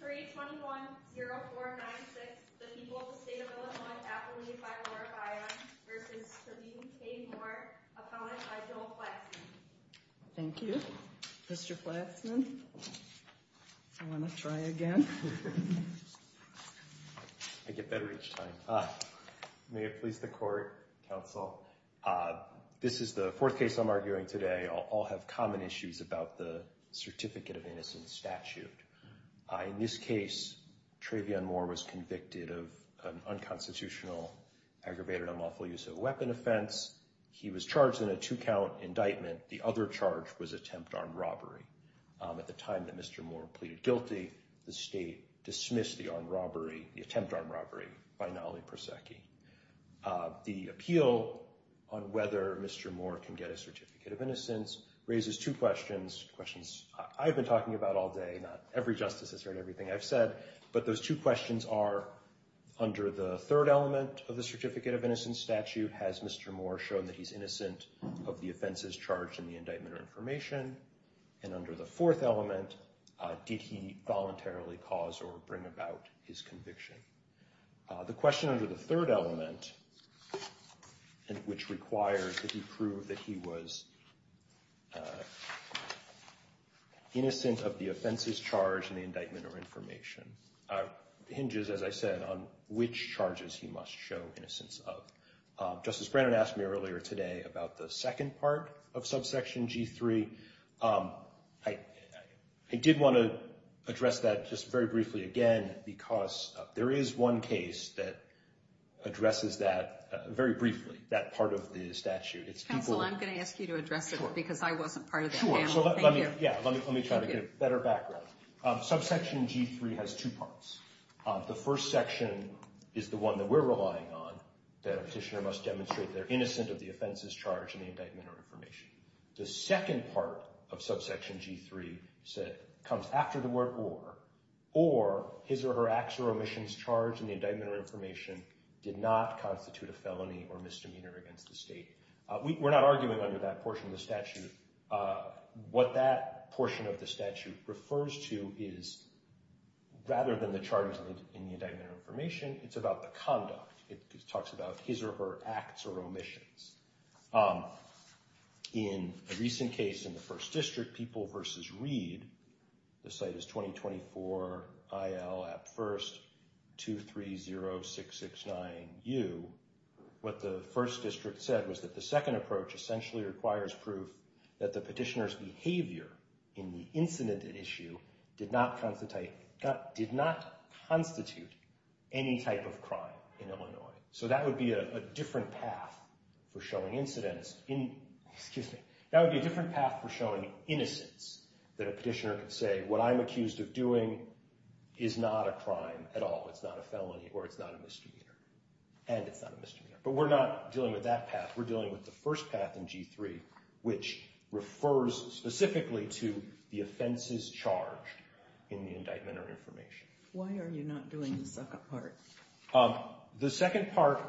321-0496, the people of the state of Illinois, appellee by Laura Byron, versus Kareem K. Moore, appellant by Joel Flexman. Thank you. Mr. Flexman, if you want to try again. I get better each time. May it please the court, counsel. This is the fourth case I'm arguing today. I'll have common issues about the Certificate of Innocence statute. In this case, Trayvion Moore was convicted of an unconstitutional, aggravated, unlawful use of a weapon offense. He was charged in a two-count indictment. The other charge was attempt armed robbery. At the time that Mr. Moore pleaded guilty, the state dismissed the armed robbery, the attempt armed robbery, by Nollie Prosecchi. The appeal on whether Mr. Moore can get a Certificate of Innocence raises two questions, questions I've been talking about all day. Not every justice has heard everything I've said. But those two questions are, under the third element of the Certificate of Innocence statute, has Mr. Moore shown that he's innocent of the offenses charged in the indictment or information? And under the fourth element, did he voluntarily cause or bring about his conviction? The question under the third element, which requires that he prove that he was innocent of the offenses charged in the indictment or information, hinges, as I said, on which charges he must show innocence of. Justice Brannon asked me earlier today about the second part of subsection G3. I did want to address that just very briefly again, because there is one case that addresses that very briefly, that part of the statute. It's people- Counsel, I'm going to ask you to address it because I wasn't part of that panel, thank you. Yeah, let me try to get a better background. Subsection G3 has two parts. The first section is the one that we're relying on, that a petitioner must demonstrate they're innocent of the offenses charged in the indictment or information. The second part of subsection G3 comes after the word or, or his or her acts or omissions charged in the indictment or information did not constitute a felony or misdemeanor against the state. We're not arguing under that portion of the statute. What that portion of the statute refers to is, rather than the charges in the indictment or information, it's about the conduct. It talks about his or her acts or omissions. In a recent case in the First District, People v. Reed, the site is 2024-IL-AP-1-230-669-U, what the First District said was that the second approach essentially requires proof that the petitioner's behavior in the incident at issue did not constitute any type of crime in Illinois. So that would be a different path for showing incidents in, excuse me, that would be a different path for showing innocents that a petitioner could say, what I'm accused of doing is not a crime at all. It's not a felony or it's not a misdemeanor. And it's not a misdemeanor. But we're not dealing with that path. We're dealing with the first path in G3, which refers specifically to the offenses charged in the indictment or information. Why are you not doing the second part? The second part,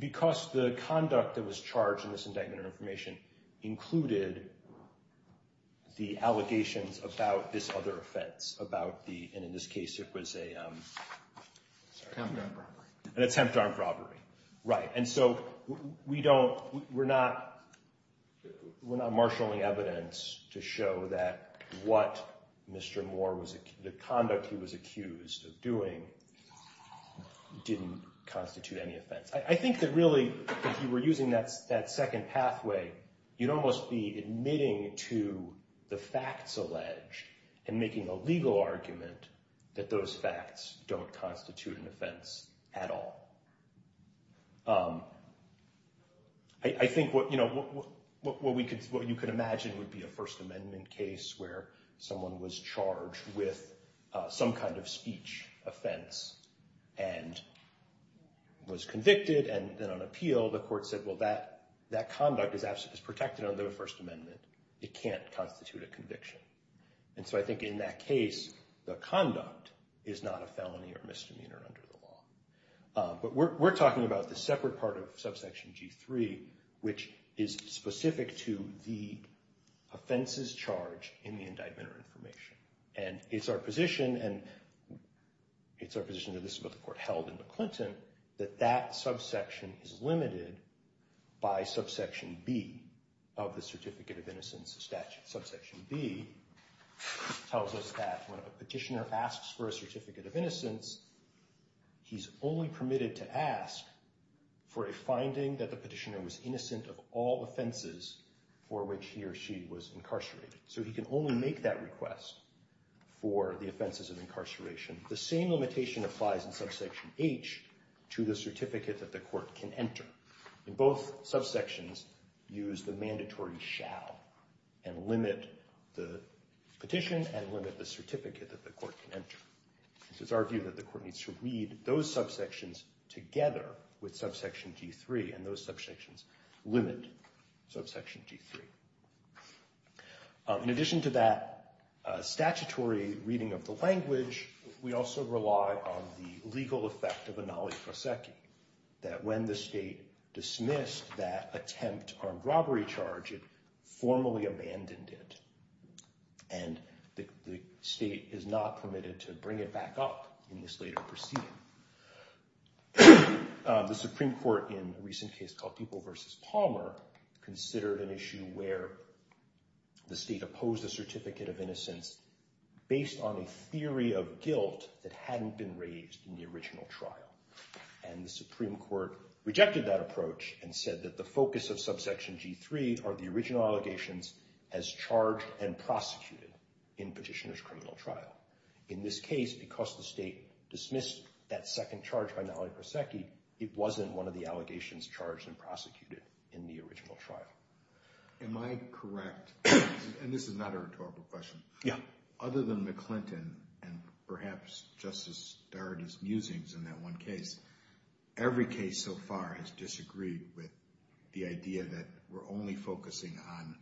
because the conduct that was charged in this indictment or information included the allegations about this other offense, about the, and in this case it was a, sorry. An attempt on robbery. An attempt on robbery, right. And so we don't, we're not marshaling evidence to show that what Mr. Moore was, the conduct he was accused of doing didn't constitute any offense. I think that really, if you were using that second pathway, you'd almost be admitting to the facts alleged and making a legal argument that those facts don't constitute an offense at all. I think what you could imagine would be a First Amendment case where someone was charged with some kind of speech offense and was convicted and then on appeal, the court said, well, that conduct is protected under the First Amendment. It can't constitute a conviction. And so I think in that case, the conduct is not a felony or misdemeanor under the law. But we're talking about the separate part of subsection G3, which is specific to the offenses charged in the indictment or information. And it's our position, and it's our position that this is what the court held in McClinton, that that subsection is limited by subsection B of the Certificate of Innocence statute. Subsection B tells us that when a petitioner asks for a Certificate of Innocence, he's only permitted to ask for a finding that the petitioner was innocent of all offenses for which he or she was incarcerated. So he can only make that request for the offenses of incarceration. The same limitation applies in subsection H to the certificate that the court can enter. In both subsections, use the mandatory shall and limit the petition and limit the certificate that the court can enter. It's our view that the court needs to read those subsections together with subsection G3 and those subsections limit subsection G3. In addition to that statutory reading of the language, we also rely on the legal effect of Anali Proseki, that when the state dismissed that attempt armed robbery charge, it formally abandoned it. And the state is not permitted to bring it back up in this later proceeding. The Supreme Court in a recent case called Dupo versus Palmer considered an issue where the state opposed the certificate of innocence based on a theory of guilt that hadn't been raised in the original trial. And the Supreme Court rejected that approach and said that the focus of subsection G3 are the original allegations as charged and prosecuted in petitioner's criminal trial. In this case, because the state dismissed that second charge by Anali Proseki, it wasn't one of the allegations charged and prosecuted in the original trial. Am I correct? And this is not a rhetorical question. Other than McClinton and perhaps Justice Darity's musings in that one case, every case so far has disagreed with the idea that we're only focusing on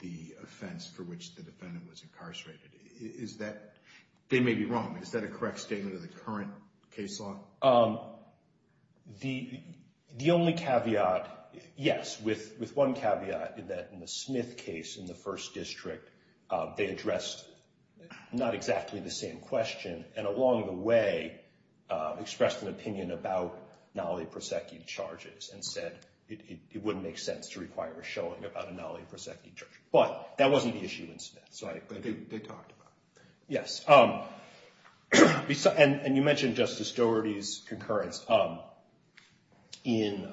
the offense for which the defendant was incarcerated. Is that, they may be wrong, but is that a correct statement of the current case law? The only caveat, yes, with one caveat is that in the Smith case in the first district, they addressed not exactly the same question and along the way expressed an opinion about Anali Proseki charges and said it wouldn't make sense to require a showing about Anali Proseki charges. But that wasn't the issue in Smith. Sorry. They talked about it. Yes. And you mentioned Justice Darity's concurrence. In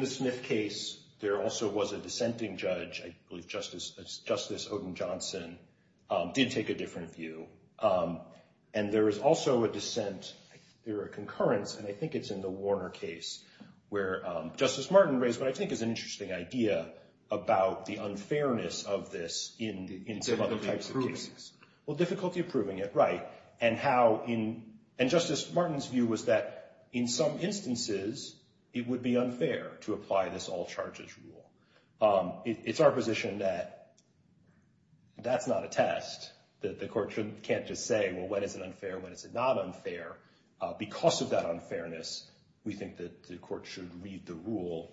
the Smith case, there also was a dissenting judge. I believe Justice Odin Johnson did take a different view. And there is also a dissent, there are concurrence, and I think it's in the Warner case where Justice Martin raised what I think is an interesting idea about the unfairness of this in some other types of cases. Well, difficulty approving it, right, and Justice Martin's view was that in some instances, it would be unfair to apply this all charges rule. It's our position that that's not a test, that the court can't just say, well, when is it unfair, when is it not unfair? Because of that unfairness, we think that the court should read the rule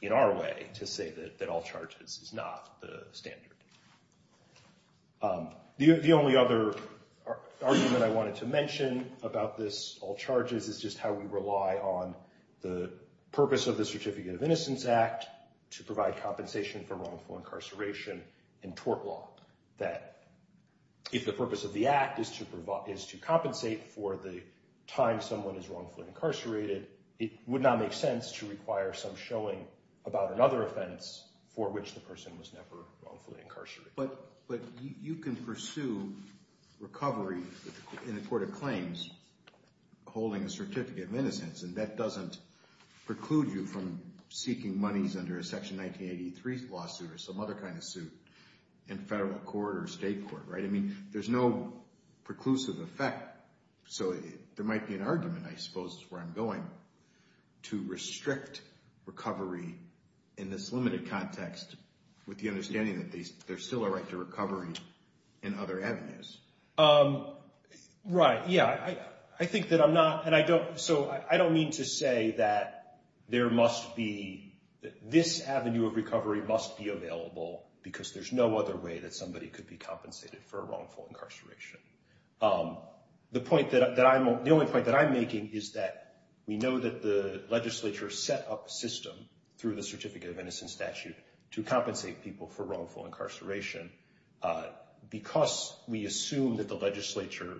in our way to say that all charges is not the standard. The only other argument I wanted to mention about this all charges is just how we rely on the purpose of the Certificate of Innocence Act to provide compensation for wrongful incarceration in tort law. That if the purpose of the act is to compensate for the time someone is wrongfully incarcerated, it would not make sense to require some showing about another offense for which the person was never wrongfully incarcerated. But you can pursue recovery in a court of claims holding a Certificate of Innocence, and that doesn't preclude you from seeking monies under a Section 1983 lawsuit or some other kind of suit in federal court or state court, right? I mean, there's no preclusive effect, so there might be an argument, I suppose, where I'm going, to restrict recovery in this limited context with the understanding that there's still a right to recovery in other avenues. Right, yeah, I think that I'm not, and I don't, so I don't mean to say that there must be, this avenue of recovery must be available because there's no other way that somebody could be compensated for a wrongful incarceration. The point that I'm, the only point that I'm making is that we know that the legislature set up a system through the Certificate of Innocence statute to compensate people for wrongful incarceration. Because we assume that the legislature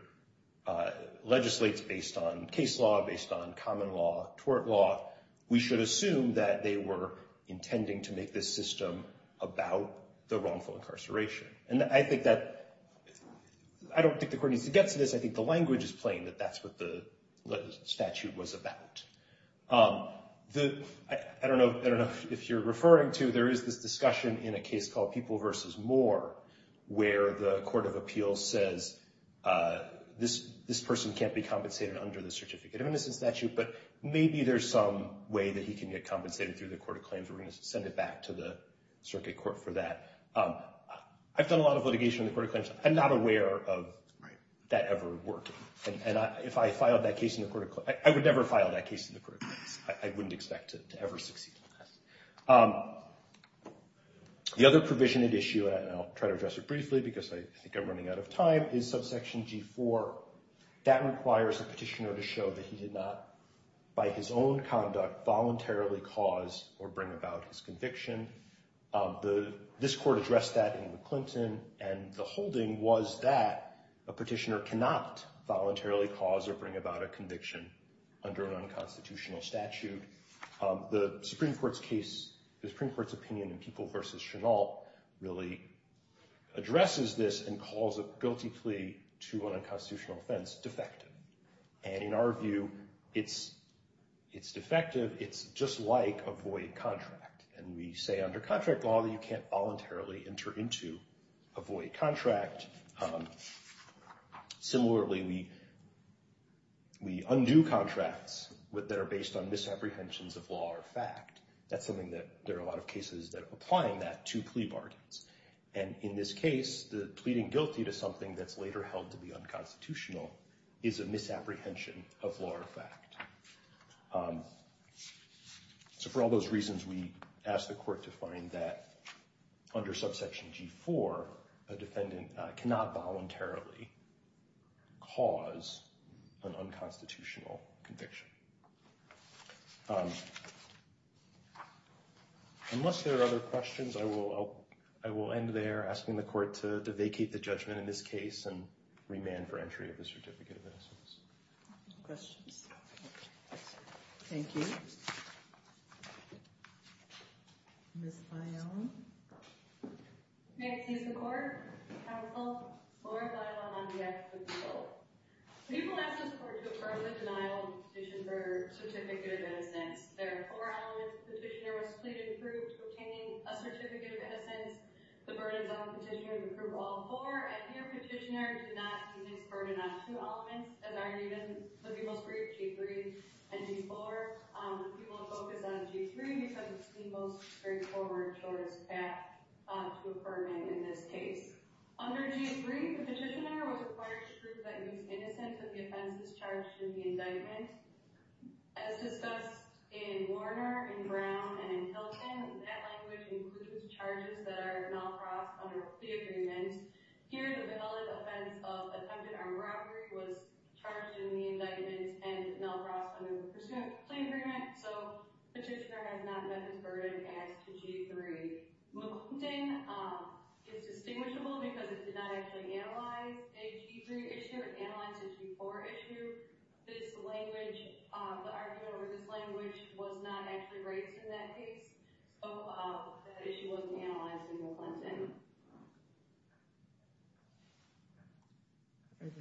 legislates based on case law, based on common law, tort law, we should assume that they were intending to make this system about the wrongful incarceration. And I think that, I don't think the court needs to get to this, I think the language is plain, that that's what the statute was about. I don't know if you're referring to, there is this discussion in a case called People vs. Moore, where the Court of Appeals says, this person can't be compensated under the Certificate of Innocence statute, but maybe there's some way that he can get compensated through the Court of Claims, we're gonna send it back to the circuit court for that. I've done a lot of litigation in the Court of Claims, I'm not aware of that ever working. If I filed that case in the Court of Claims, I would never file that case in the Court of Claims, I wouldn't expect to ever succeed in this. The other provision at issue, and I'll try to address it briefly, because I think I'm running out of time, is subsection G4, that requires a petitioner to show that he did not, by his own conduct, voluntarily cause or bring about his conviction. This court addressed that in the Clinton, and the holding was that a petitioner cannot voluntarily cause or bring about a conviction under an unconstitutional statute. The Supreme Court's case, the Supreme Court's opinion in People v. Chennault really addresses this and calls a guilty plea to an unconstitutional offense defective. And in our view, it's defective, it's just like a void contract. And we say under contract law, that you can't voluntarily enter into a void contract. Similarly, we undo contracts that are based on misapprehensions of law or fact. That's something that there are a lot of cases that are applying that to plea bargains. And in this case, the pleading guilty to something that's later held to be unconstitutional is a misapprehension of law or fact. So for all those reasons, we ask the court to find that under subsection G4, a defendant cannot voluntarily cause an unconstitutional conviction. Unless there are other questions, I will end there asking the court to vacate the judgment in this case and remand for entry of the certificate of innocence. Questions? Thank you. Ms. Lyonne. May it please the court, counsel, Laura Lyonne on behalf of the people. The people ask the court to affirm the denial of the petition for certificate of innocence. There are four elements. The petitioner was pleaded in proof to obtain a certificate of innocence. The burden on the petitioner is approved all four. I fear petitioner did not even burden on two elements that are even the most brief, G3 and G4. The people have focused on G3 because it's the most straightforward shortest path to affirming in this case. Under G3, the petitioner was required to prove that he's innocent if the offense is charged in the indictment. As discussed in Warner, in Brown, and in Hilton, that language includes charges that are not brought under a plea agreement. Here, the valid offense of attempted armed robbery was charged in the indictment and not brought under the presumed plea agreement. So, petitioner has not met his burden as to G3. McClinton is distinguishable because it did not actually analyze a G3 issue. It analyzed a G4 issue. This language, the argument over this language was not actually raised in that case. So, that issue wasn't analyzed in McClinton.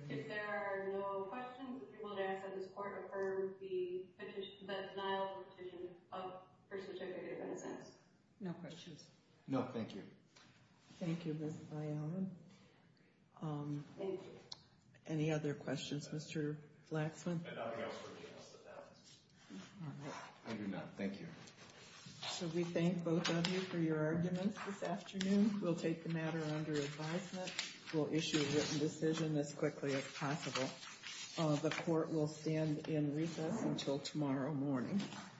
If there are no questions, the people would ask that this court affirm the denial of the petition for certificate of innocence. No questions. No, thank you. Thank you, Ms. Bialin. Thank you. Any other questions, Mr. Laxman? I don't think I was working on this at all. All right. I do not. Thank you. So, we thank both of you for your arguments this afternoon. We'll take the matter under advisement. We'll issue a written decision as quickly as possible. The court will stand in recess until tomorrow morning.